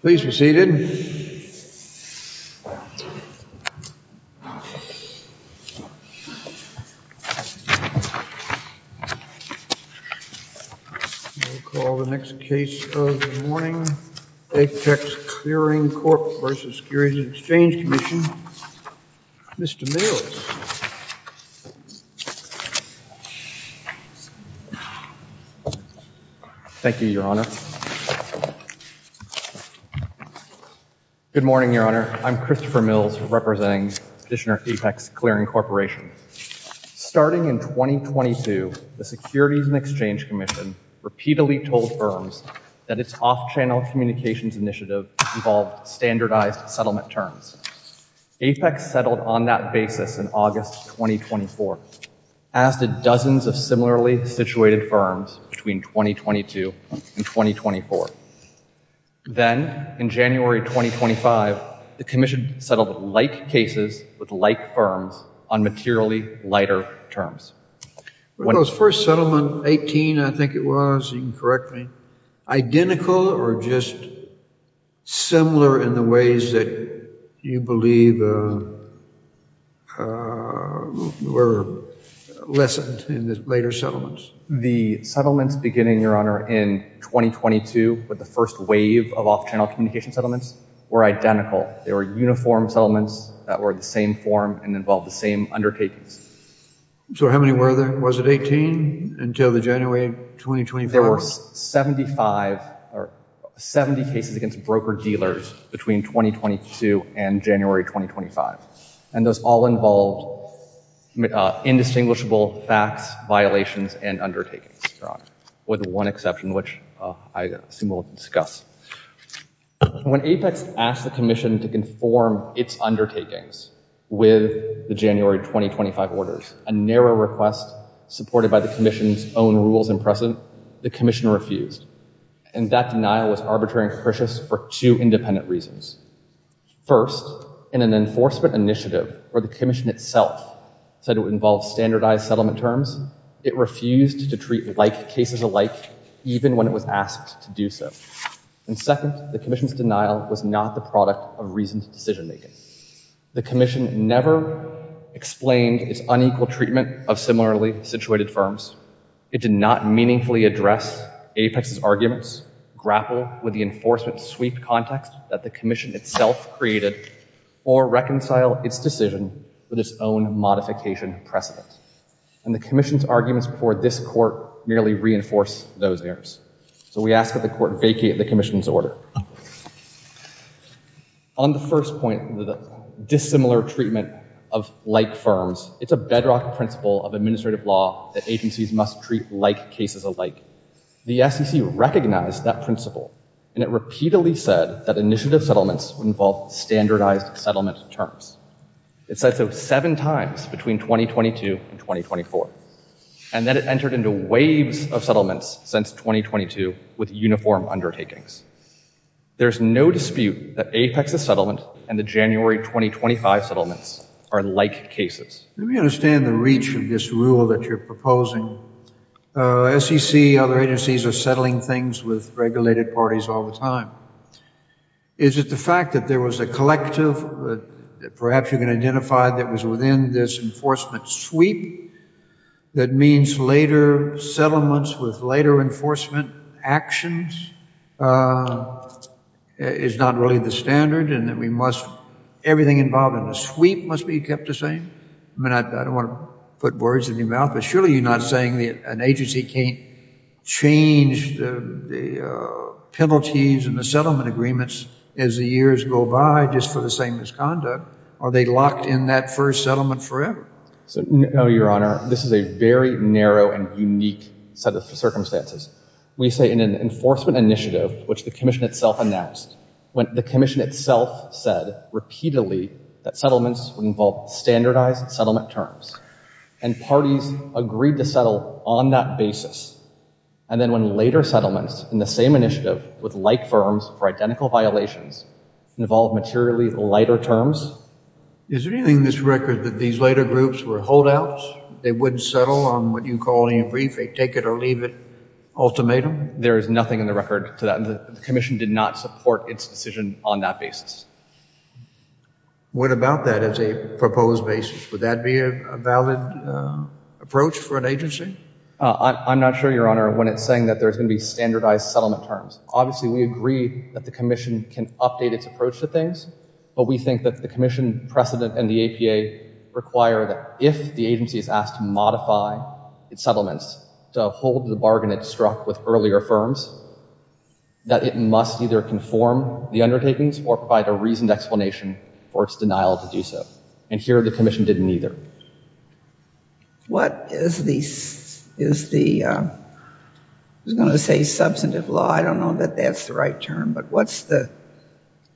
Please be seated. We'll call the next case of the morning. Apex Clearing Corporation Securities and Exchange Commission, Mr. Mills. Thank you, Your Honor. Good morning, Your Honor. I'm Christopher Mills, representing Petitioner Apex Clearing Corporation. Starting in 2022, the Securities and Exchange Commission repeatedly told firms that its off-channel communications initiative involved standardized settlement terms. Apex settled on that basis in August 2024, as did dozens of similarly situated firms between 2022 and 2024. Then, in January 2025, the Commission settled like cases with like firms on materially lighter terms. Were those first settlement, 18 I think it was, you can correct me, identical or just similar in the ways that you believe were lessened in the later settlements? The settlements beginning, Your Honor, in 2022 with the first wave of off-channel communications settlements were identical. They were uniform settlements that were the same form and involved the same undertakings. So how many were there? Was it 18 until the January 2025? There were 75 or 70 cases against broker-dealers between 2022 and January 2025. And those all involved indistinguishable facts, violations, and undertakings, Your Honor, with one exception, which I assume we'll discuss. When Apex asked the Commission to conform its undertakings with the January 2025 orders, a narrow request supported by the Commission's own rules and precedent, the Commission refused. And that denial was arbitrary and capricious for two independent reasons. First, in an enforcement initiative where the Commission itself said it would involve standardized settlement terms, it refused to treat like cases alike, even when it was asked to do so. And second, the Commission's denial was not the product of reasoned decision-making. The Commission never explained its unequal treatment of similarly situated firms. It did not meaningfully address Apex's arguments, grapple with the enforcement-sweeped context that the Commission itself created, or reconcile its decision with its own modification precedent. And the Commission's arguments before this Court merely reinforce those errors. So we ask that the Court vacate the Commission's order. On the first point, the dissimilar treatment of like firms, it's a bedrock principle of administrative law that agencies must treat like cases alike. The SEC recognized that principle, and it repeatedly said that initiative settlements would involve standardized settlement terms. It said so seven times between 2022 and 2024. And then it entered into waves of settlements since 2022 with uniform undertakings. There's no dispute that Apex's settlement and the January 2025 settlements are like cases. Let me understand the reach of this rule that you're proposing. SEC, other agencies are settling things with regulated parties all the time. Is it the fact that there was a collective that perhaps you can identify that was within this enforcement sweep? That means later settlements with later enforcement actions is not really the standard, and that we must, everything involved in the sweep must be kept the same? I mean, I don't want to put words in your mouth, but surely you're not saying that an agency can't change the penalties and the settlement agreements as the years go by just for the same misconduct? Are they locked in that first settlement forever? No, Your Honor. This is a very narrow and unique set of circumstances. We say in an enforcement initiative, which the commission itself announced, when the commission itself said repeatedly that settlements would involve standardized settlement terms and parties agreed to settle on that basis. And then when later settlements in the same initiative with like firms for identical violations involved materially lighter terms. Is there anything in this record that these later groups were holdouts? They wouldn't settle on what you call in your briefing, take it or leave it ultimatum? There is nothing in the record to that. The commission did not support its decision on that basis. What about that as a proposed basis? Would that be a valid approach for an agency? I'm not sure, Your Honor, when it's saying that there's going to be standardized settlement terms. Obviously, we agree that the commission can update its approach to things. But we think that the commission precedent and the APA require that if the agency is asked to modify its settlements to hold the bargain it struck with earlier firms, that it must either conform the undertakings or provide a reasoned explanation for its denial to do so. And here the commission didn't either. What is the, I was going to say substantive law, I don't know that that's the right term, but what's the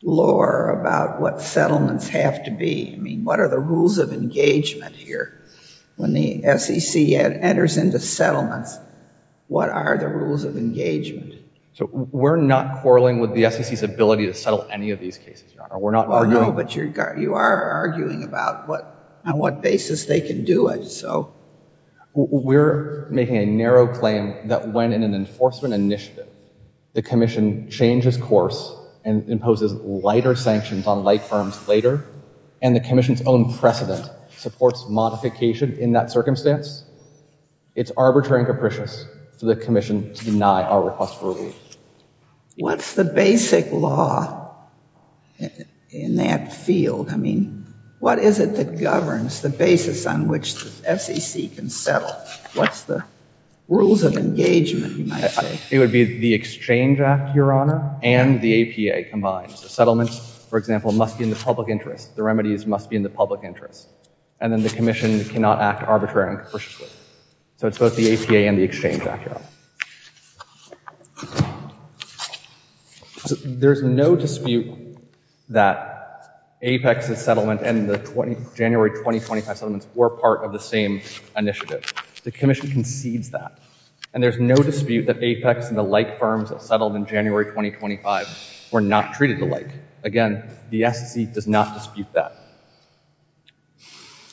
lore about what settlements have to be? I mean, what are the rules of engagement here when the SEC enters into settlements? What are the rules of engagement? So we're not quarreling with the SEC's ability to settle any of these cases, Your Honor. Oh, no, but you are arguing about on what basis they can do it, so. We're making a narrow claim that when in an enforcement initiative, the commission changes course and imposes lighter sanctions on light firms later, and the commission's own precedent supports modification in that circumstance, it's arbitrary and capricious for the commission to deny our request for a ruling. What's the basic law in that field? I mean, what is it that governs the basis on which the SEC can settle? What's the rules of engagement, you might say? It would be the Exchange Act, Your Honor, and the APA combined. Settlements, for example, must be in the public interest. The remedies must be in the public interest. And then the commission cannot act arbitrary and capriciously. So it's both the APA and the Exchange Act, Your Honor. There's no dispute that APEX's settlement and the January 2025 settlements were part of the same initiative. The commission concedes that. And there's no dispute that APEX and the light firms that settled in January 2025 were not treated alike. Again, the SEC does not dispute that.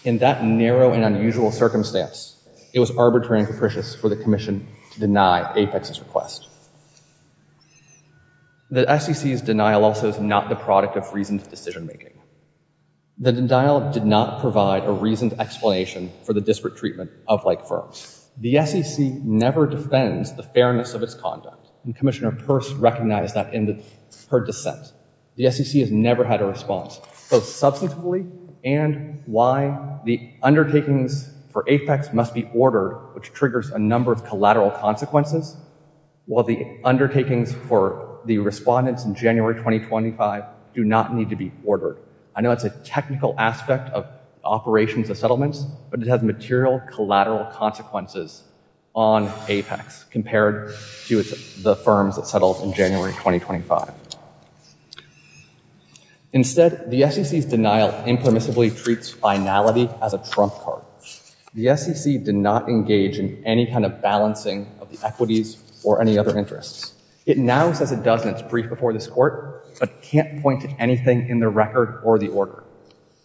In that narrow and unusual circumstance, it was arbitrary and capricious for the commission to deny APEX's request. The SEC's denial also is not the product of reasoned decision-making. The denial did not provide a reasoned explanation for the disparate treatment of light firms. The SEC never defends the fairness of its conduct. And Commissioner Peirce recognized that in her dissent. The SEC has never had a response, both substantively and why the undertakings for APEX must be ordered, which triggers a number of collateral consequences, while the undertakings for the respondents in January 2025 do not need to be ordered. I know it's a technical aspect of operations of settlements, but it has material collateral consequences on APEX compared to the firms that settled in January 2025. Instead, the SEC's denial impermissibly treats finality as a trump card. The SEC did not engage in any kind of balancing of the equities or any other interests. It now says it does in its brief before this Court, but can't point to anything in the record or the order.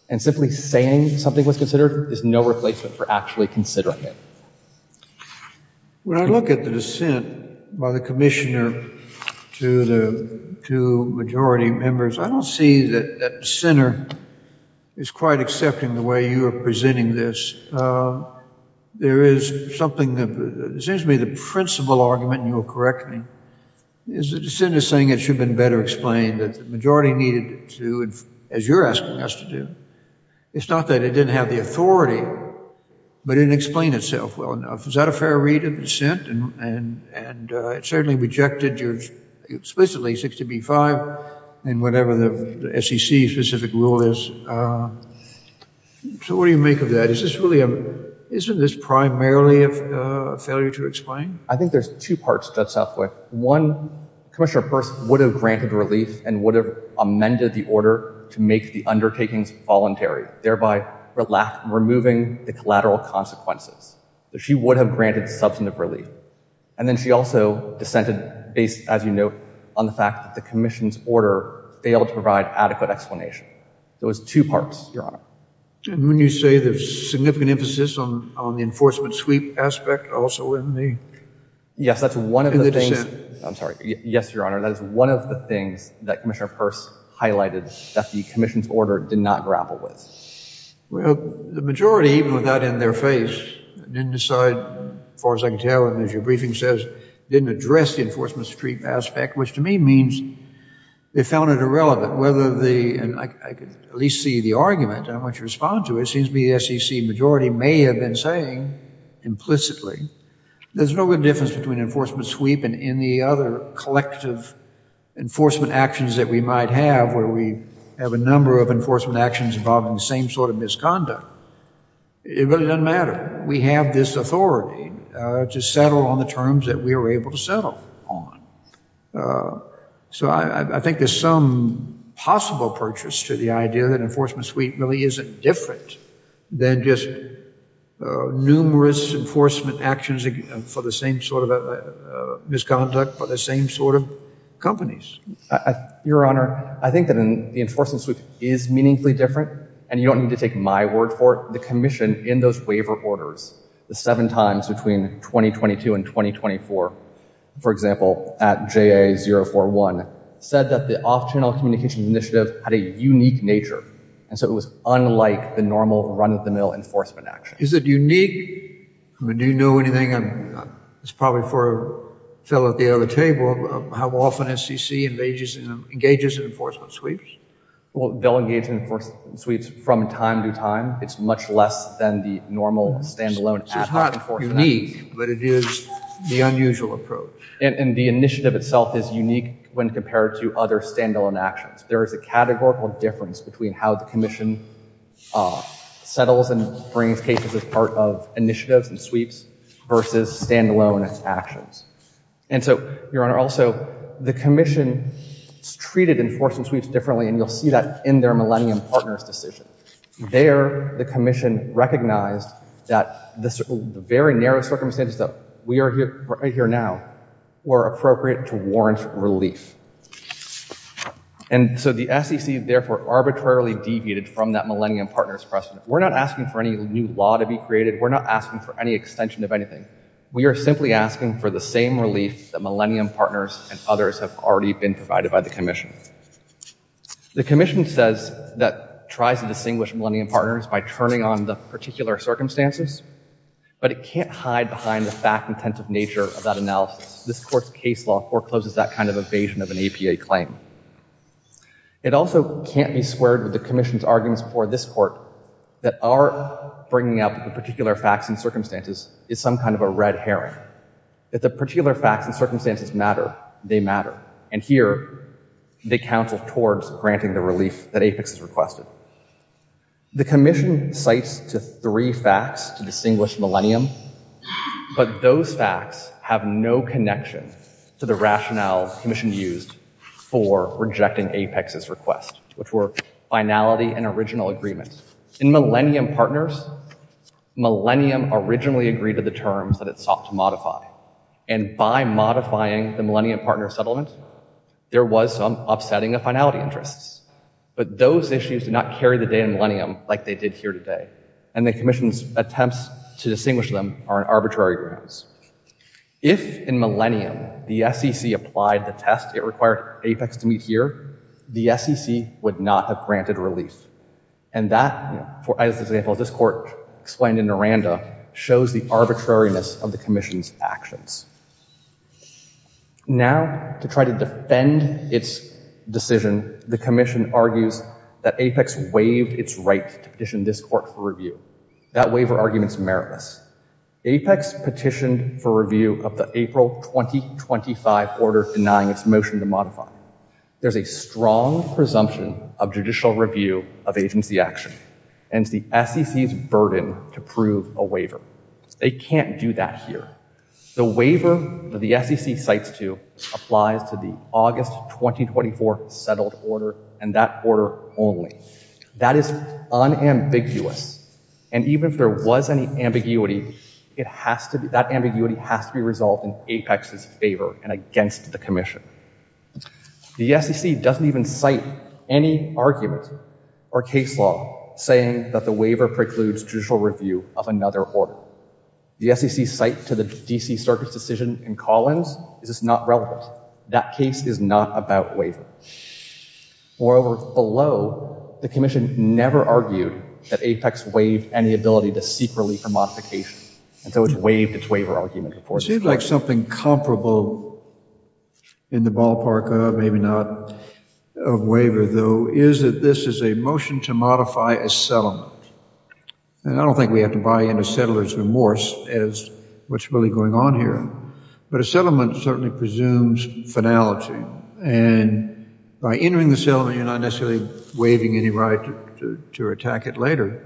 And simply saying something was considered is no replacement for actually considering it. When I look at the dissent by the Commissioner to the two majority members, I don't see that the dissenter is quite accepting the way you are presenting this. There is something that seems to be the principal argument, and you will correct me, is that the dissenter is saying it should have been better explained, that the majority needed to, as you're asking us to do. It's not that it didn't have the authority, but it didn't explain itself well enough. Is that a fair read of dissent? And it certainly rejected your explicitly 60B-5 and whatever the SEC's specific rule is. So what do you make of that? Isn't this primarily a failure to explain? I think there's two parts to that, Southwick. One, Commissioner Peirce would have granted relief and would have amended the order to make the undertakings voluntary, thereby removing the collateral consequences. She would have granted substantive relief. And then she also dissented based, as you note, on the fact that the Commission's order failed to provide adequate explanation. There was two parts, Your Honor. And when you say there's significant emphasis on the enforcement sweep aspect also in the dissent? Yes, that's one of the things, I'm sorry. Yes, Your Honor, that is one of the things that Commissioner Peirce highlighted that the Commission's order did not grapple with. Well, the majority, even with that in their face, didn't decide, as far as I can tell, and as your briefing says, didn't address the enforcement sweep aspect, which to me means they found it irrelevant. And I could at least see the argument. I want you to respond to it. It seems to me the SEC majority may have been saying, implicitly, there's no good difference between enforcement sweep and any other collective enforcement actions that we might have where we have a number of enforcement actions involving the same sort of misconduct. It really doesn't matter. We have this authority to settle on the terms that we are able to settle on. So I think there's some possible purchase to the idea that enforcement sweep really isn't different than just numerous enforcement actions for the same sort of misconduct by the same sort of companies. Your Honor, I think that the enforcement sweep is meaningfully different, and you don't need to take my word for it. The Commission, in those waiver orders, the seven times between 2022 and 2024, for example, at JA-041, said that the off-channel communication initiative had a unique nature, and so it was unlike the normal run-of-the-mill enforcement action. Is it unique? Do you know anything? It's probably for a fellow at the other table. Do you know how often SEC engages in enforcement sweeps? Well, they'll engage in enforcement sweeps from time to time. It's much less than the normal stand-alone ad hoc enforcement actions. It's not unique, but it is the unusual approach. And the initiative itself is unique when compared to other stand-alone actions. There is a categorical difference between how the Commission settles and brings cases as part of initiatives and sweeps versus stand-alone actions. And so, Your Honor, also, the Commission treated enforcement sweeps differently, and you'll see that in their Millennium Partners decision. There, the Commission recognized that the very narrow circumstances that we are right here now were appropriate to warrant relief. And so the SEC, therefore, arbitrarily deviated from that Millennium Partners precedent. We're not asking for any new law to be created. We're not asking for any extension of anything. We are simply asking for the same relief that Millennium Partners and others have already been provided by the Commission. The Commission says that it tries to distinguish Millennium Partners by turning on the particular circumstances, but it can't hide behind the fact-intentive nature of that analysis. This Court's case law forecloses that kind of evasion of an APA claim. It also can't be squared with the Commission's arguments for this Court that our bringing up the particular facts and circumstances is some kind of a red herring. If the particular facts and circumstances matter, they matter. And here, they counsel towards granting the relief that APEX has requested. The Commission cites three facts to distinguish Millennium, but those facts have no connection to the rationale the Commission used for rejecting APEX's request, which were finality and original agreement. First, in Millennium Partners, Millennium originally agreed to the terms that it sought to modify. And by modifying the Millennium Partners settlement, there was some upsetting of finality interests. But those issues did not carry the day in Millennium like they did here today. And the Commission's attempts to distinguish them are in arbitrary grounds. If, in Millennium, the SEC applied the test it required APEX to meet here, the SEC would not have granted relief. And that, as this Court explained in Miranda, shows the arbitrariness of the Commission's actions. Now, to try to defend its decision, the Commission argues that APEX waived its right to petition this Court for review. That waiver argument is meritless. APEX petitioned for review of the April 2025 order denying its motion to modify. There's a strong presumption of judicial review of agency action. And it's the SEC's burden to prove a waiver. They can't do that here. The waiver that the SEC cites to applies to the August 2024 settled order and that order only. That is unambiguous. And even if there was any ambiguity, that ambiguity has to be resolved in APEX's favor and against the Commission. The SEC doesn't even cite any argument or case law saying that the waiver precludes judicial review of another order. The SEC's cite to the D.C. Circuit's decision in Collins is just not relevant. That case is not about waiver. Moreover, below, the Commission never argued that APEX waived any ability to seek relief or modification. And so it's waived its waiver argument. It seems like something comparable in the ballpark of maybe not of waiver, though, is that this is a motion to modify a settlement. And I don't think we have to buy in a settler's remorse as what's really going on here. But a settlement certainly presumes finality. And by entering the settlement, you're not necessarily waiving any right to attack it later.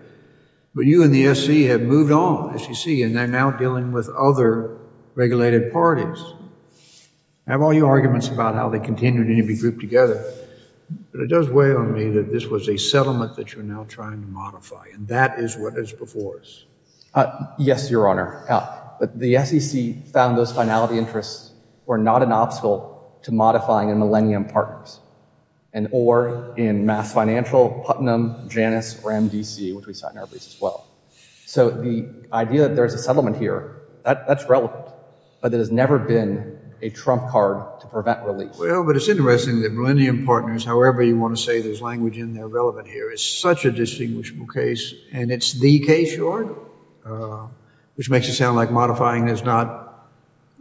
But you and the SEC have moved on, as you see, and they're now dealing with other regulated parties. I have all your arguments about how they continue to be grouped together. But it does weigh on me that this was a settlement that you're now trying to modify. And that is what is before us. Yes, Your Honor. The SEC found those finality interests were not an obstacle to modifying in Millennium Partners and or in Mass Financial, Putnam, Janus, or MDC, which we cite in our briefs as well. So the idea that there's a settlement here, that's relevant. But there has never been a trump card to prevent release. Well, but it's interesting that Millennium Partners, however you want to say there's language in there relevant here, is such a distinguishable case. And it's the case, Your Honor, which makes it sound like modifying is not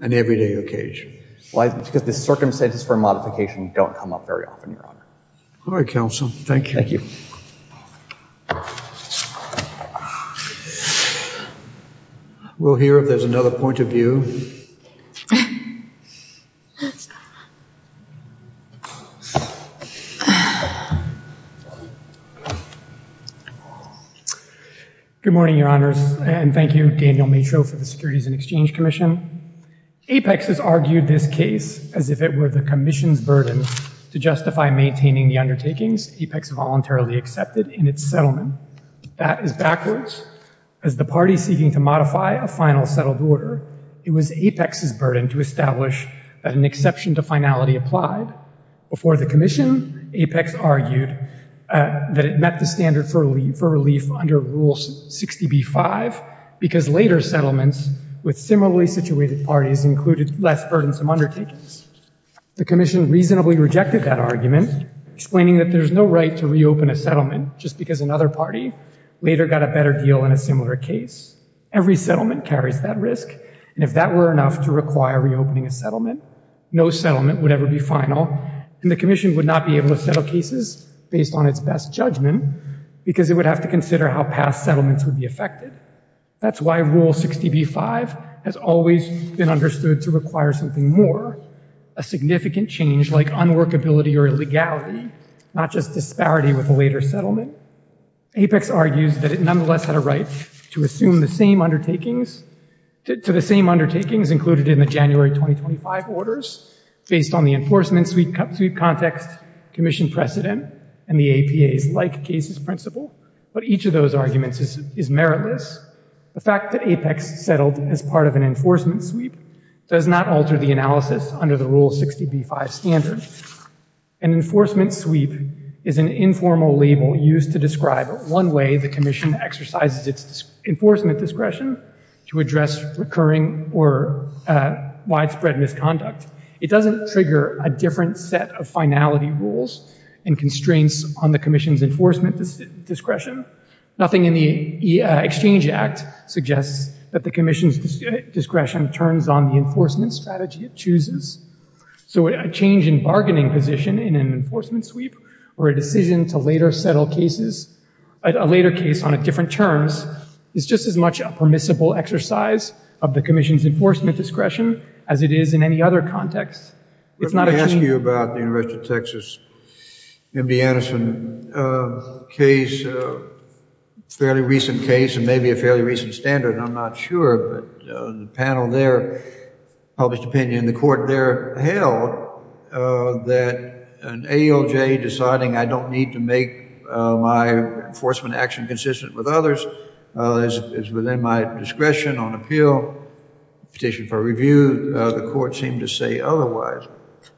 an everyday occasion. Well, it's because the circumstances for modification don't come up very often, Your Honor. All right, counsel. Thank you. We'll hear if there's another point of view. Good morning, Your Honors. And thank you, Daniel Matreau, for the Securities and Exchange Commission. Apex has argued this case as if it were the Commission's burden to justify maintaining the undertakings Apex voluntarily accepted in its settlement. That is backwards. As the party seeking to modify a final settled order, it was Apex's burden to establish that an exception to finality applied. Before the Commission, Apex argued that it met the standard for relief under Rule 60b-5 because later settlements with similarly situated parties included less burdensome undertakings. The Commission reasonably rejected that argument, explaining that there's no right to reopen a settlement just because another party later got a better deal on a similar case. Every settlement carries that risk, and if that were enough to require reopening a settlement, no settlement would ever be final, and the Commission would not be able to settle cases based on its best judgment because it would have to consider how past settlements would be affected. That's why Rule 60b-5 has always been understood to require something more, a significant change like unworkability or illegality, not just disparity with a later settlement. Apex argues that it nonetheless had a right to assume the same undertakings, to the same undertakings included in the January 2025 orders based on the enforcement sweep context, Commission precedent, and the APA's like-cases principle, but each of those arguments is meritless. The fact that Apex settled as part of an enforcement sweep does not alter the analysis under the Rule 60b-5 standard. An enforcement sweep is an informal label used to describe one way the Commission exercises its enforcement discretion to address recurring or widespread misconduct. It doesn't trigger a different set of finality rules and constraints on the Commission's enforcement discretion. Nothing in the Exchange Act suggests that the Commission's discretion turns on the enforcement strategy it chooses. So a change in bargaining position in an enforcement sweep or a decision to later settle cases, a later case on different terms, is just as much a permissible exercise of the Commission's enforcement discretion as it is in any other context. It's not a change... Let me ask you about the University of Texas, MD Anderson case, a fairly recent case and maybe a fairly recent standard, I'm not sure, but the panel there published opinion. They held that an AOJ deciding I don't need to make my enforcement action consistent with others is within my discretion on appeal, petition for review, the court seemed to say otherwise.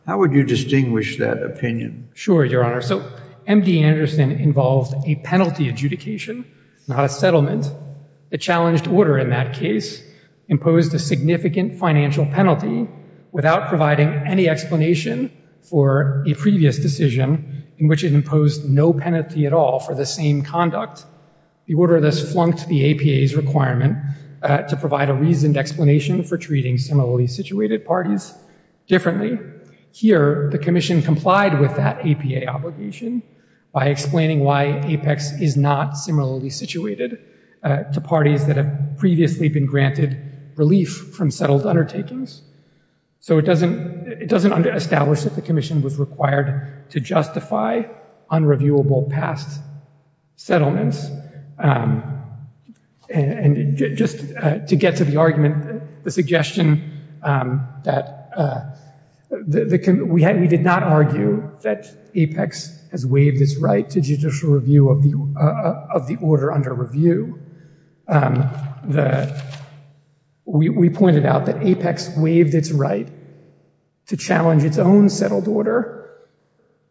How would you distinguish that opinion? Sure, Your Honor. So MD Anderson involved a penalty adjudication, not a settlement. The challenged order in that case imposed a significant financial penalty without providing any explanation for a previous decision in which it imposed no penalty at all for the same conduct. The order thus flunked the APA's requirement to provide a reasoned explanation for treating similarly situated parties differently. Here, the Commission complied with that APA obligation by explaining why APEX is not similarly situated to parties that have previously been granted relief from settled undertakings. So it doesn't establish that the Commission was required to justify unreviewable past settlements. And just to get to the argument, the suggestion that we did not argue that APEX has waived its right to judicial review of the order under review. We pointed out that APEX waived its right to challenge its own settled order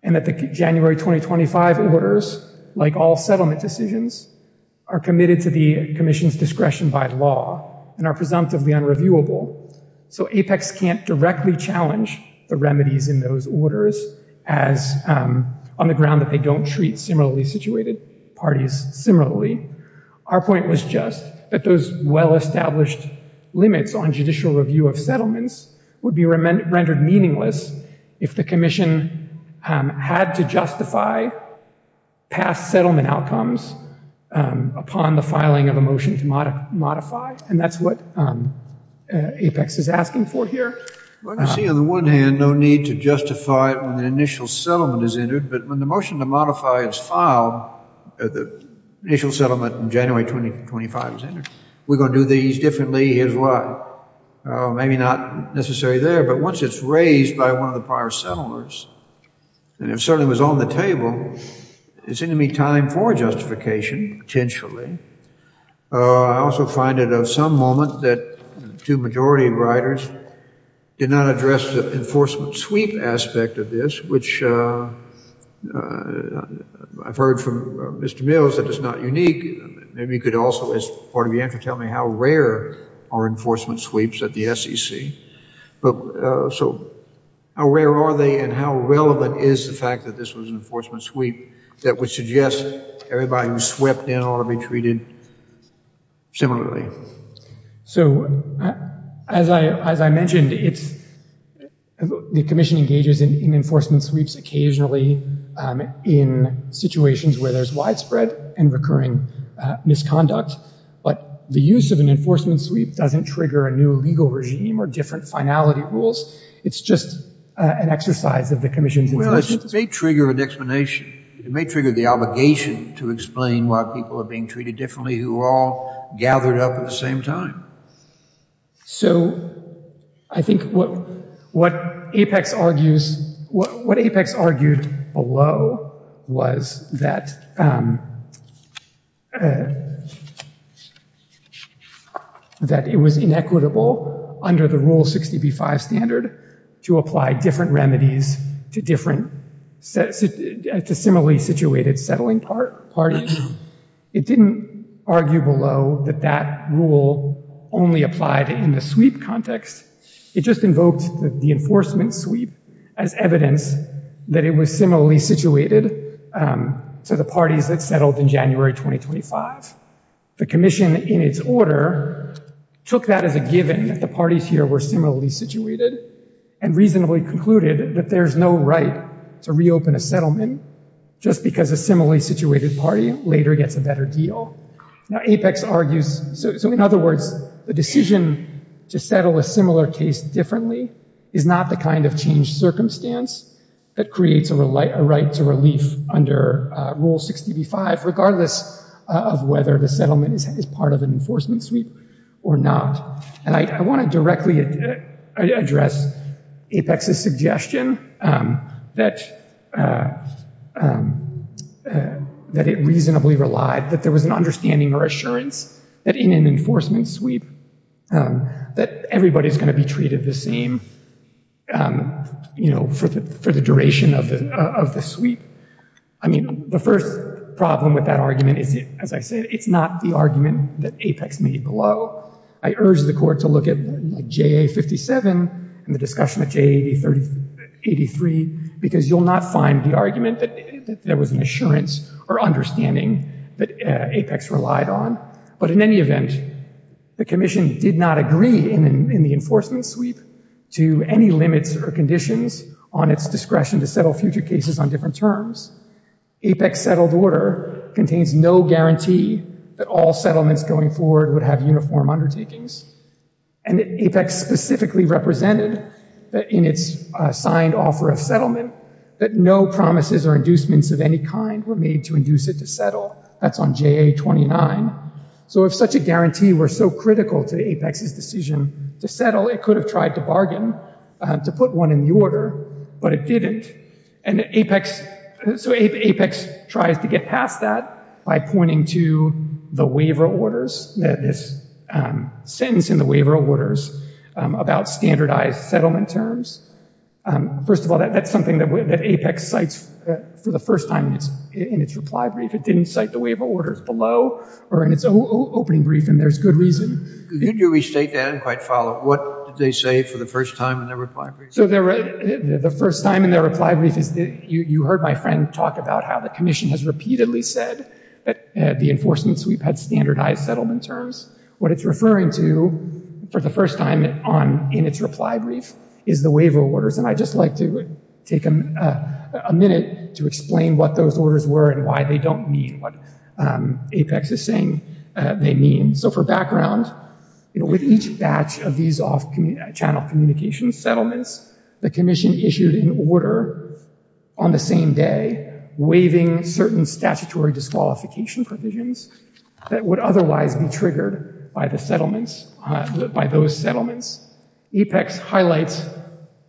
and that the January 2025 orders, like all settlement decisions, are committed to the Commission's discretion by law and are presumptively unreviewable. So APEX can't directly challenge the remedies in those orders on the ground that they don't treat similarly situated parties similarly. Our point was just that those well-established limits on judicial review of settlements would be rendered meaningless if the Commission had to justify past settlement outcomes upon the filing of a motion to modify. And that's what APEX is asking for here. I see on the one hand no need to justify when the initial settlement is entered, but when the motion to modify its file at the initial settlement in January 2025 is entered, we're going to do these differently. Here's why. It's necessary there, but once it's raised by one of the prior settlers, and it certainly was on the table, it seemed to me time for justification, potentially. I also find it of some moment that the two majority writers did not address the enforcement sweep aspect of this, which I've heard from Mr. Mills that is not unique. Maybe you could also, as part of the answer, tell me how rare are enforcement sweeps at the SEC. So how rare are they, and how relevant is the fact that this was an enforcement sweep that would suggest everybody who swept in ought to be treated similarly? So as I mentioned, the Commission engages in enforcement sweeps occasionally in situations where there's widespread and recurring misconduct, but the use of an enforcement sweep doesn't trigger a new legal regime or different finality rules. It's just an exercise of the Commission's... Well, it may trigger an explanation. It may trigger the obligation to explain why people are being treated differently who are all gathered up at the same time. So I think what Apex argues... What Apex argued below was that... That it was inequitable under the Rule 60b-5 standard to apply different remedies to similarly situated settling parties. It didn't argue below that that rule only applied in the sweep context. It just invoked the enforcement sweep as evidence that it was similarly situated to the parties that settled in January 2025. The Commission, in its order, took that as a given that the parties here were similarly situated and reasonably concluded that there's no right to reopen a settlement just because a similarly situated party later gets a better deal. Now, Apex argues... So in other words, the decision to settle a similar case differently is not the kind of changed circumstance that creates a right to relief under Rule 60b-5, regardless of whether the settlement is part of an enforcement sweep or not. And I want to directly address Apex's suggestion that it reasonably relied, that there was an understanding or assurance that in an enforcement sweep that everybody's going to be treated the same for the duration of the sweep. I mean, the first problem with that argument is, as I said, it's not the argument that Apex made below. I urge the Court to look at JA-57 and the discussion of JA-83 because you'll not find the argument that there was an assurance or understanding that Apex relied on. But in any event, the Commission did not agree in the enforcement sweep to any limits or conditions on its discretion to settle future cases on different terms. Apex settled order contains no guarantee that all settlements going forward would have uniform undertakings. And Apex specifically represented that in its signed offer of settlement that no promises or inducements of any kind were made to induce it to settle. That's on JA-29. So if such a guarantee were so critical to Apex's decision to settle, it could have tried to bargain to put one in the order, but it didn't. So Apex tries to get past that by pointing to the waiver orders, this sentence in the waiver orders about standardized settlement terms. First of all, that's something that Apex cites for the first time in its reply brief. It didn't cite the waiver orders below or in its opening brief, and there's good reason. Could you restate that and quite follow? What did they say for the first time in their reply brief? So the first time in their reply brief is you heard my friend talk about how the commission has repeatedly said that the enforcement sweep had standardized settlement terms. What it's referring to for the first time in its reply brief is the waiver orders. And I'd just like to take a minute to explain what those orders were and why they don't mean what Apex is saying they mean. So for background, with each batch of these off-channel communications settlements, the commission issued an order on the same day waiving certain statutory disqualification provisions that would otherwise be triggered by those settlements. Apex highlights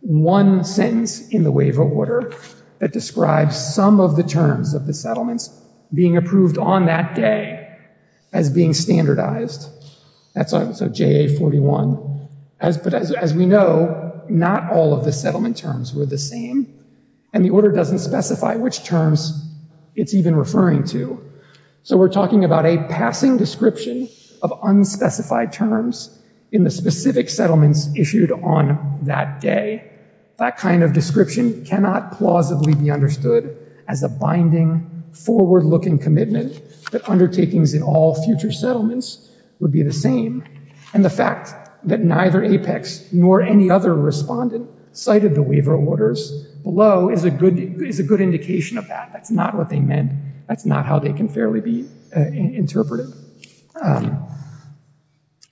one sentence in the waiver order that describes some of the terms of the settlements being approved on that day as being standardized. That's JA-41. But as we know, not all of the settlement terms were the same. And the order doesn't specify which terms it's even referring to. So we're talking about a passing description of unspecified terms in the specific settlements issued on that day. That kind of description cannot plausibly be understood as a binding, forward-looking commitment that undertakings in all future settlements would be the same. And the fact that neither Apex nor any other respondent cited the waiver orders below is a good indication of that. That's not what they meant. That's not how they can fairly be interpreted. Can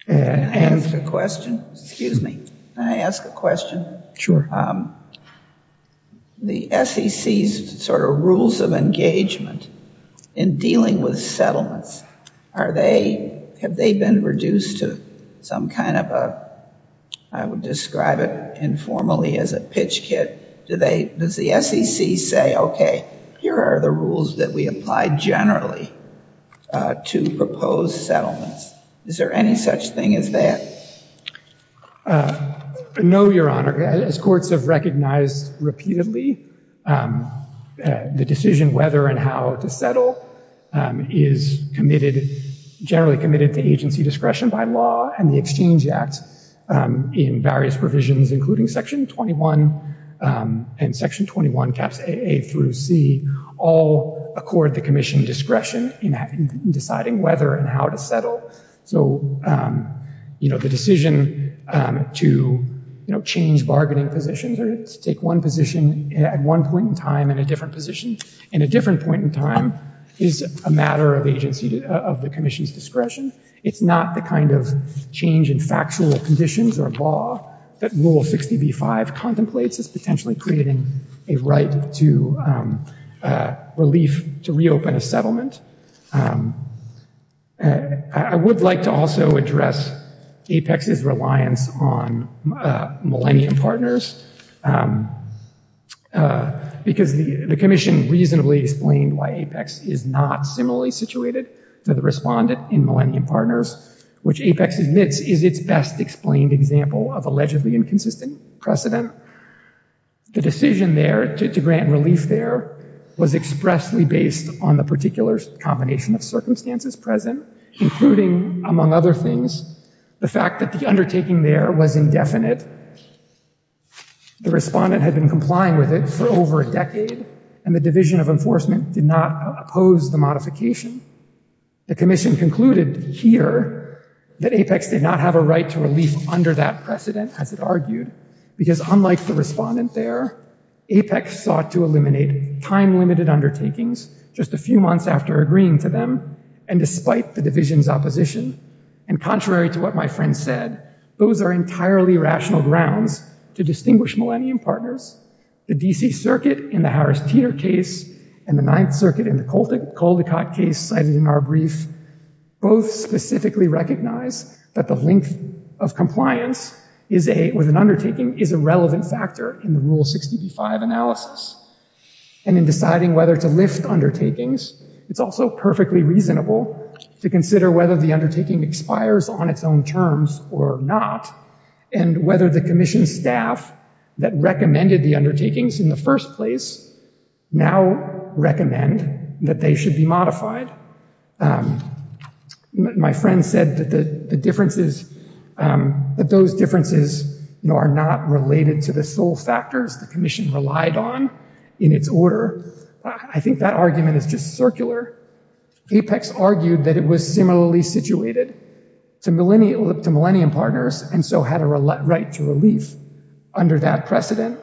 I ask a question? Excuse me. Can I ask a question? Sure. The SEC's sort of rules of engagement in dealing with settlements, have they been reduced to some kind of a, I would describe it informally, as a pitch kit? Does the SEC say, okay, here are the rules that we apply generally to proposed settlements? Is there any such thing as that? No, Your Honor. As courts have recognized repeatedly, the decision whether and how to settle is generally committed to agency discretion by law. And the Exchange Act in various provisions, including Section 21 and Section 21 caps A through C, all accord the Commission discretion in deciding whether and how to settle. So, you know, the decision to change bargaining positions or to take one position at one point in time and a different position in a different point in time is a matter of agency, of the Commission's discretion. It's not the kind of change in factual conditions or law that Rule 60b-5 contemplates as potentially creating a right to relief to reopen a settlement. I would like to also address APEX's reliance on Millennium Partners, because the Commission reasonably explained that APEX is not similarly situated to the Respondent in Millennium Partners, which APEX admits is its best explained example of allegedly inconsistent precedent. The decision there to grant relief there was expressly based on the particular combination of circumstances present, including, among other things, the fact that the undertaking there was indefinite. The Respondent had been complying with it for over a decade, and opposed the modification. The Commission concluded here that APEX did not have a right to relief under that precedent, as it argued, because unlike the Respondent there, APEX sought to eliminate time-limited undertakings just a few months after agreeing to them, and despite the Division's opposition. And contrary to what my friend said, those are entirely rational grounds to distinguish Millennium Partners. The D.C. Circuit in the Harris-Teter case and the Caldecott case cited in our brief both specifically recognize that the length of compliance with an undertaking is a relevant factor in the Rule 60b-5 analysis. And in deciding whether to lift undertakings, it's also perfectly reasonable to consider whether the undertaking expires on its own terms or not, and whether the Commission staff that recommended the undertakings in the first place should be modified. My friend said that those differences are not related to the sole factors the Commission relied on in its order. I think that argument is just circular. APEX argued that it was similarly situated to Millennium Partners and so had a right to relief under that precedent.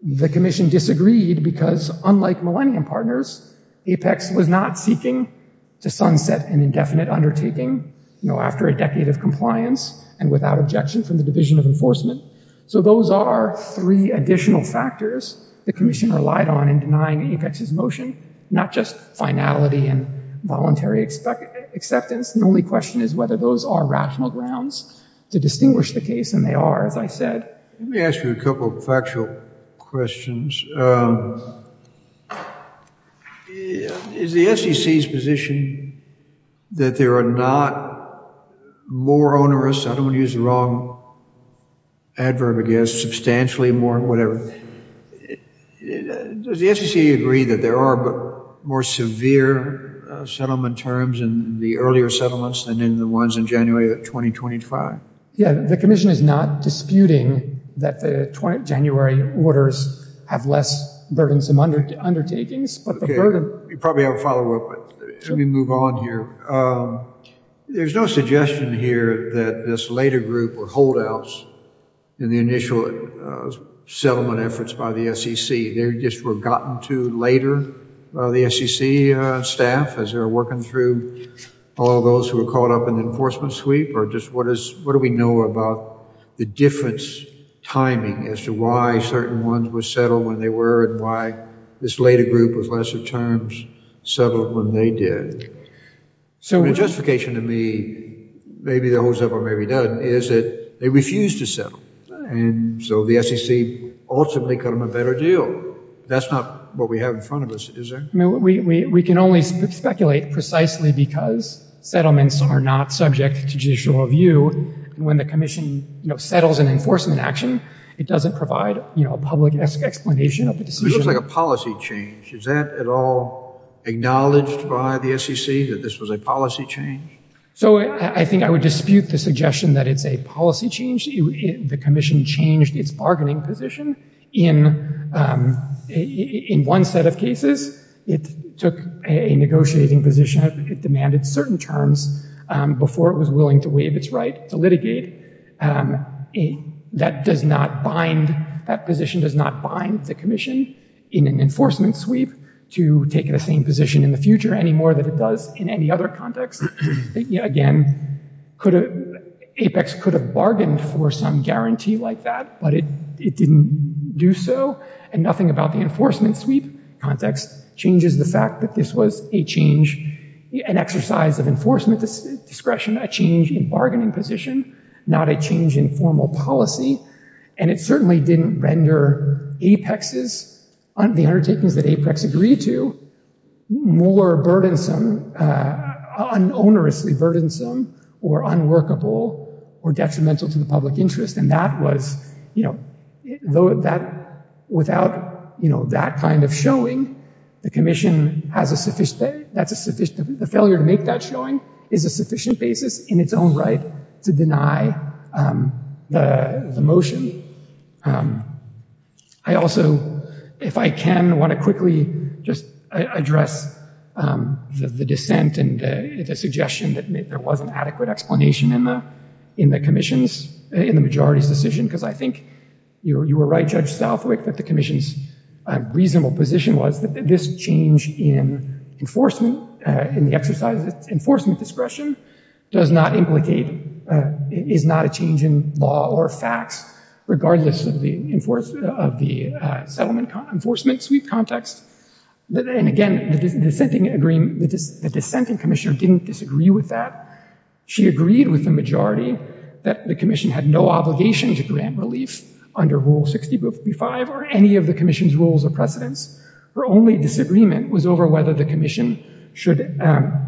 The Commission disagreed because unlike Millennium Partners, APEX was not seeking to sunset an indefinite undertaking after a decade of compliance and without objection from the Division of Enforcement. So those are three additional factors the Commission relied on in denying APEX's motion, not just finality and voluntary acceptance. The only question is whether those are rational grounds to distinguish the case, and they are, as I said. Let me ask you a couple of factual questions. Is the SEC's position that there are not more onerous, I don't want to use the wrong adverb, I guess, substantially more, whatever. Does the SEC agree that there are more severe settlement terms in the earlier settlements than in the ones in January of 2025? Yeah, the Commission is not disputing that the January orders have longer and less burdensome undertakings. You probably have a follow-up, but let me move on here. There's no suggestion here that this later group or holdouts in the initial settlement efforts by the SEC, they just were gotten to later by the SEC staff as they were working through all those who were caught up in the enforcement sweep, or just what do we know about the difference timing as to why certain ones were settled when they were and why this later group with lesser terms settled when they did. The justification to me, maybe that holds up or maybe doesn't, is that they refused to settle. And so the SEC ultimately got them a better deal. That's not what we have in front of us, is there? We can only speculate precisely because settlements are not subject to judicial review. When the Commission settles an enforcement action, it doesn't provide a public explanation of the decision. It looks like a policy change. Is that at all acknowledged by the SEC that this was a policy change? I think I would dispute the suggestion that it's a policy change. The Commission changed its bargaining position in one set of cases. It took a negotiating position. It demanded certain terms before it was willing to waive its right to litigate. That does not bind, that position does not bind the Commission in an enforcement sweep to take the same position in the future anymore than it does in any other context. Again, Apex could have bargained for some guarantee like that, but it didn't do so. And nothing about the enforcement sweep context changes the fact that this was a change, an exercise of enforcement discretion, a change in bargaining position. Not a change in formal policy. And it certainly didn't render Apex's, the undertakings that Apex agreed to, more burdensome, onerously burdensome, or unworkable, or detrimental to the public interest. And that was, without that kind of showing, the Commission has a sufficient, the failure to make that showing is a sufficient basis in its own right to deny the motion. I also, if I can, want to quickly just address the dissent and the suggestion that there wasn't adequate explanation in the, in the Commission's, in the majority's decision. Because I think you were right, Judge Southwick, that the Commission's reasonable position was that this change in enforcement, in the exercise of enforcement discretion, does not implicate is not a change in law or facts, regardless of the enforcement, of the settlement enforcement sweep context. And again, the dissenting agreement, the dissenting Commissioner didn't disagree with that. She agreed with the majority that the Commission had no obligation to grant relief under Rule 60.55 or any of the Commission's rules or precedents. Her only disagreement was over whether the Commission should,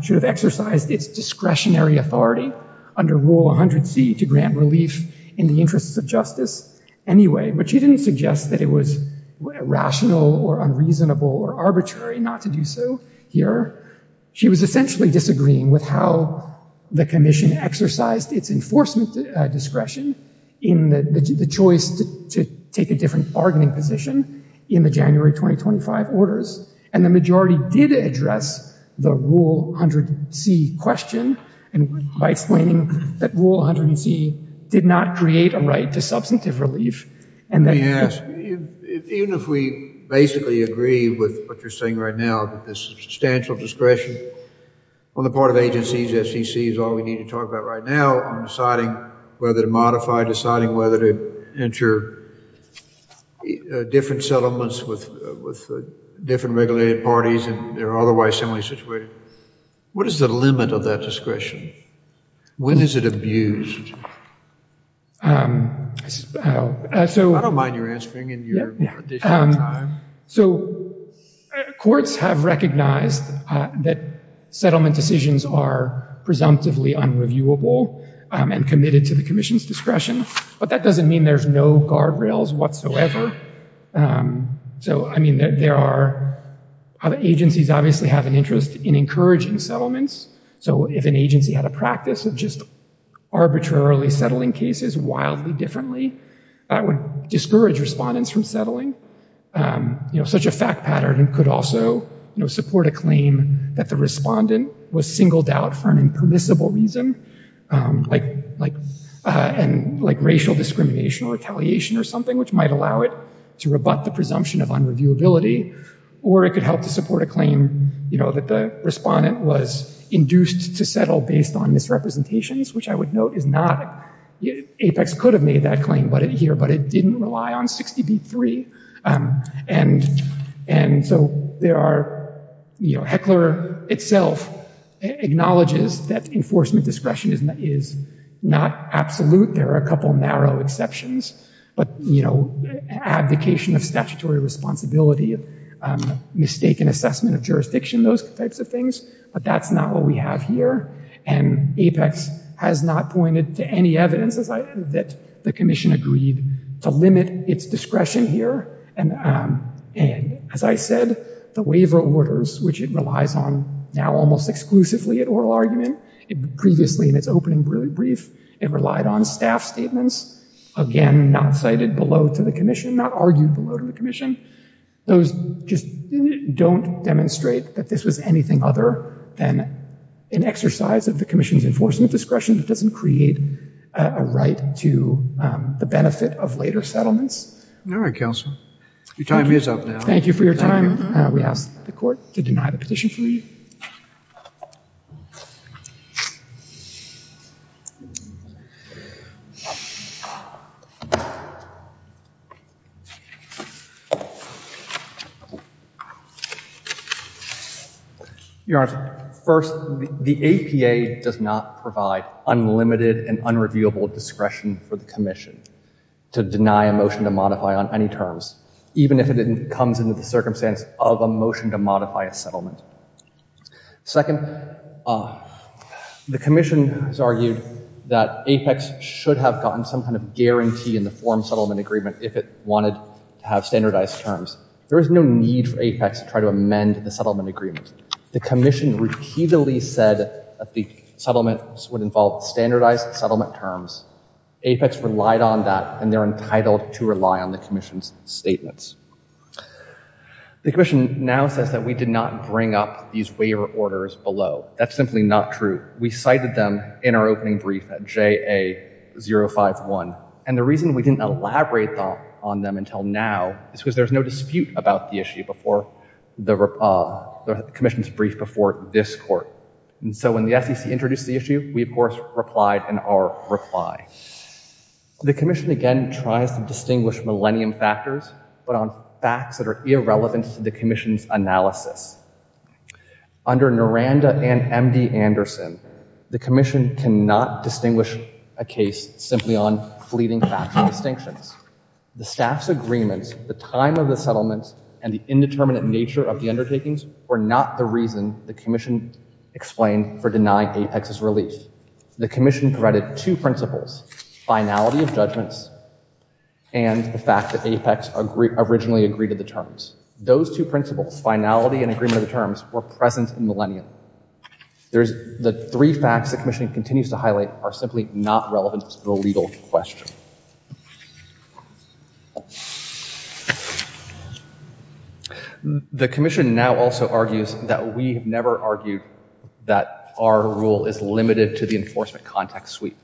should have exercised its discretionary authority under Rule 100C to grant relief in the interests of justice anyway. But she didn't suggest that it was rational or unreasonable or arbitrary not to do so here. She was essentially disagreeing with how the Commission exercised its enforcement discretion in the, the choice to take a different bargaining position in the January 2025 orders. And the majority did address the Rule 100C question by explaining that Rule 100C did not create a right to substantive relief and that... Let me ask, even if we basically agree with what you're saying right now that the substantial discretion on the part of agencies, SEC, is all we need to talk about right now on deciding whether to modify, deciding whether to enter different settlements with, with different regulated parties and they're subject to When is it abused? so... I don't mind you answering in your additional time. So, courts have recognized that settlement decisions are presumptively unreviewable and committed to the Commission's discretion. But that doesn't mean there's no guardrails whatsoever. So, I mean, there are, other agencies obviously have an advantage in encouraging settlements. So, if an agency had a practice of just arbitrarily settling cases wildly differently, that would discourage respondents from You know, such a fact pattern could also, you know, support a claim that the respondent was singled out for an impermissible reason, like, like racial discrimination or retaliation or something which might allow it to rebut the presumption of unreviewability or it could help to support a you know, that the respondent was induced to settle based on misrepresentations which I would note is not, Apex could have made that claim here but it didn't rely on 60B3. And so, there are, you know, Heckler itself acknowledges that enforcement discretion is not absolute. There are a couple narrow exceptions. you know, abdication of responsibility, mistaken assessment of those types of things, but that's not what we have here. And Apex has not pointed to any evidence that the commission agreed to limit its discretion here. And as I said, the waiver orders which it relies on now almost exclusively at oral argument, previously in its opening brief, it relied on staff statements, again, not cited below to the commission, not argued below to the commission. Those just don't demonstrate that this was anything other than an exercise of the commission's enforcement discretion that doesn't create a right to the benefit of later settlements. Thank you for your time. We ask the court to deny the petition for you. Your Honor, first, the APA does not provide unlimited and unreviewable discretion for the commission to deny a motion to modify on any terms, even if it comes into the circumstance of a motion to modify a Second, the commission has argued that Apex should have gotten some kind of approval The commission repeatedly said that the settlement would involve standardized settlement terms. Apex relied on that and they're entitled to rely on the commission's The commission now says that we did not bring up these waiver orders below. That's simply not true. We cited them in our opening brief at JA051. And the reason we didn't elaborate on them until now is because there's no dispute about the issue before the commission's brief before this court. So when the SEC introduced the issue, we, of replied in our reply. The commission did not distinguish a case simply on fleeting facts and distinctions. The staff's agreements, the time of the settlement and the indeterminate nature of the undertakings were not the reason the commission explained for denying Apex's relief. The commission provided two principles, finality of judgments and the fact that Apex originally agreed to the terms. Those two principles, finality and agreement of the terms, were present in the lenient. The three facts the continues to highlight are simply not relevant to the legal question. The commission now also argues that we have never argued that our rule is limited to the enforcement context suite.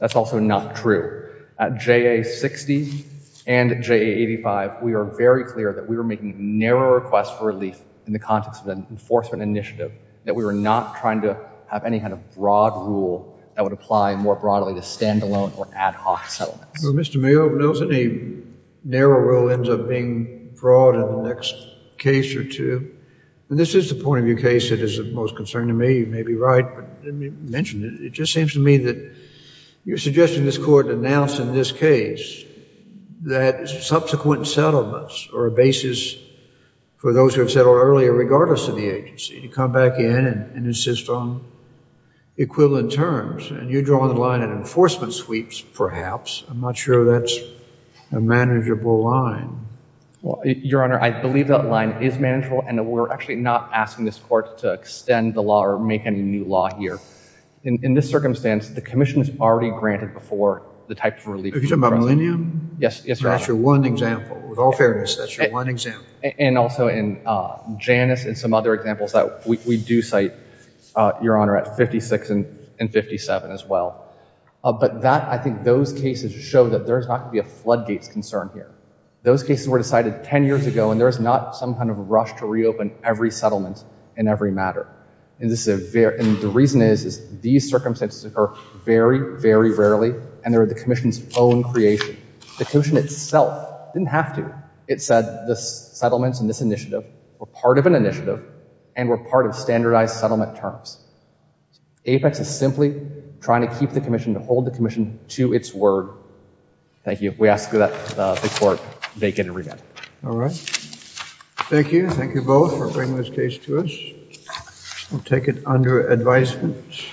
That's also not true. At JA60 and JA85 we are very clear that we were making narrow requests for relief in the context of the enforcement initiative. That we were not trying to have any kind of broad rule that would apply more broadly to standalone or ad hoc settlements. Mr. Mayor, a narrow rule ends up being broad in the next case or two. This is the point of view case that is of most concern to me. You may be right, but let me mention it. It just seems to me that suite perhaps, I'm not sure that is a manageable line. I believe that line is manageable. We are not asking this court to extend the law or make any new law here. In this circumstance, the commission has already granted before the type of relief. That is one example. In Janice and some other examples, we do cite at 56 and 57 as well. But those cases show there is not going to be a flood gate concern here. It was decided 10 years ago and there is not some kind of rush to reopen every settlement in every matter. And the reason is these circumstances occur very, very rarely and they are the commission's own creation. The itself didn't have to. It said the were part of an organization Thank you both for bringing this case to us. We'll take it under advisement. Thank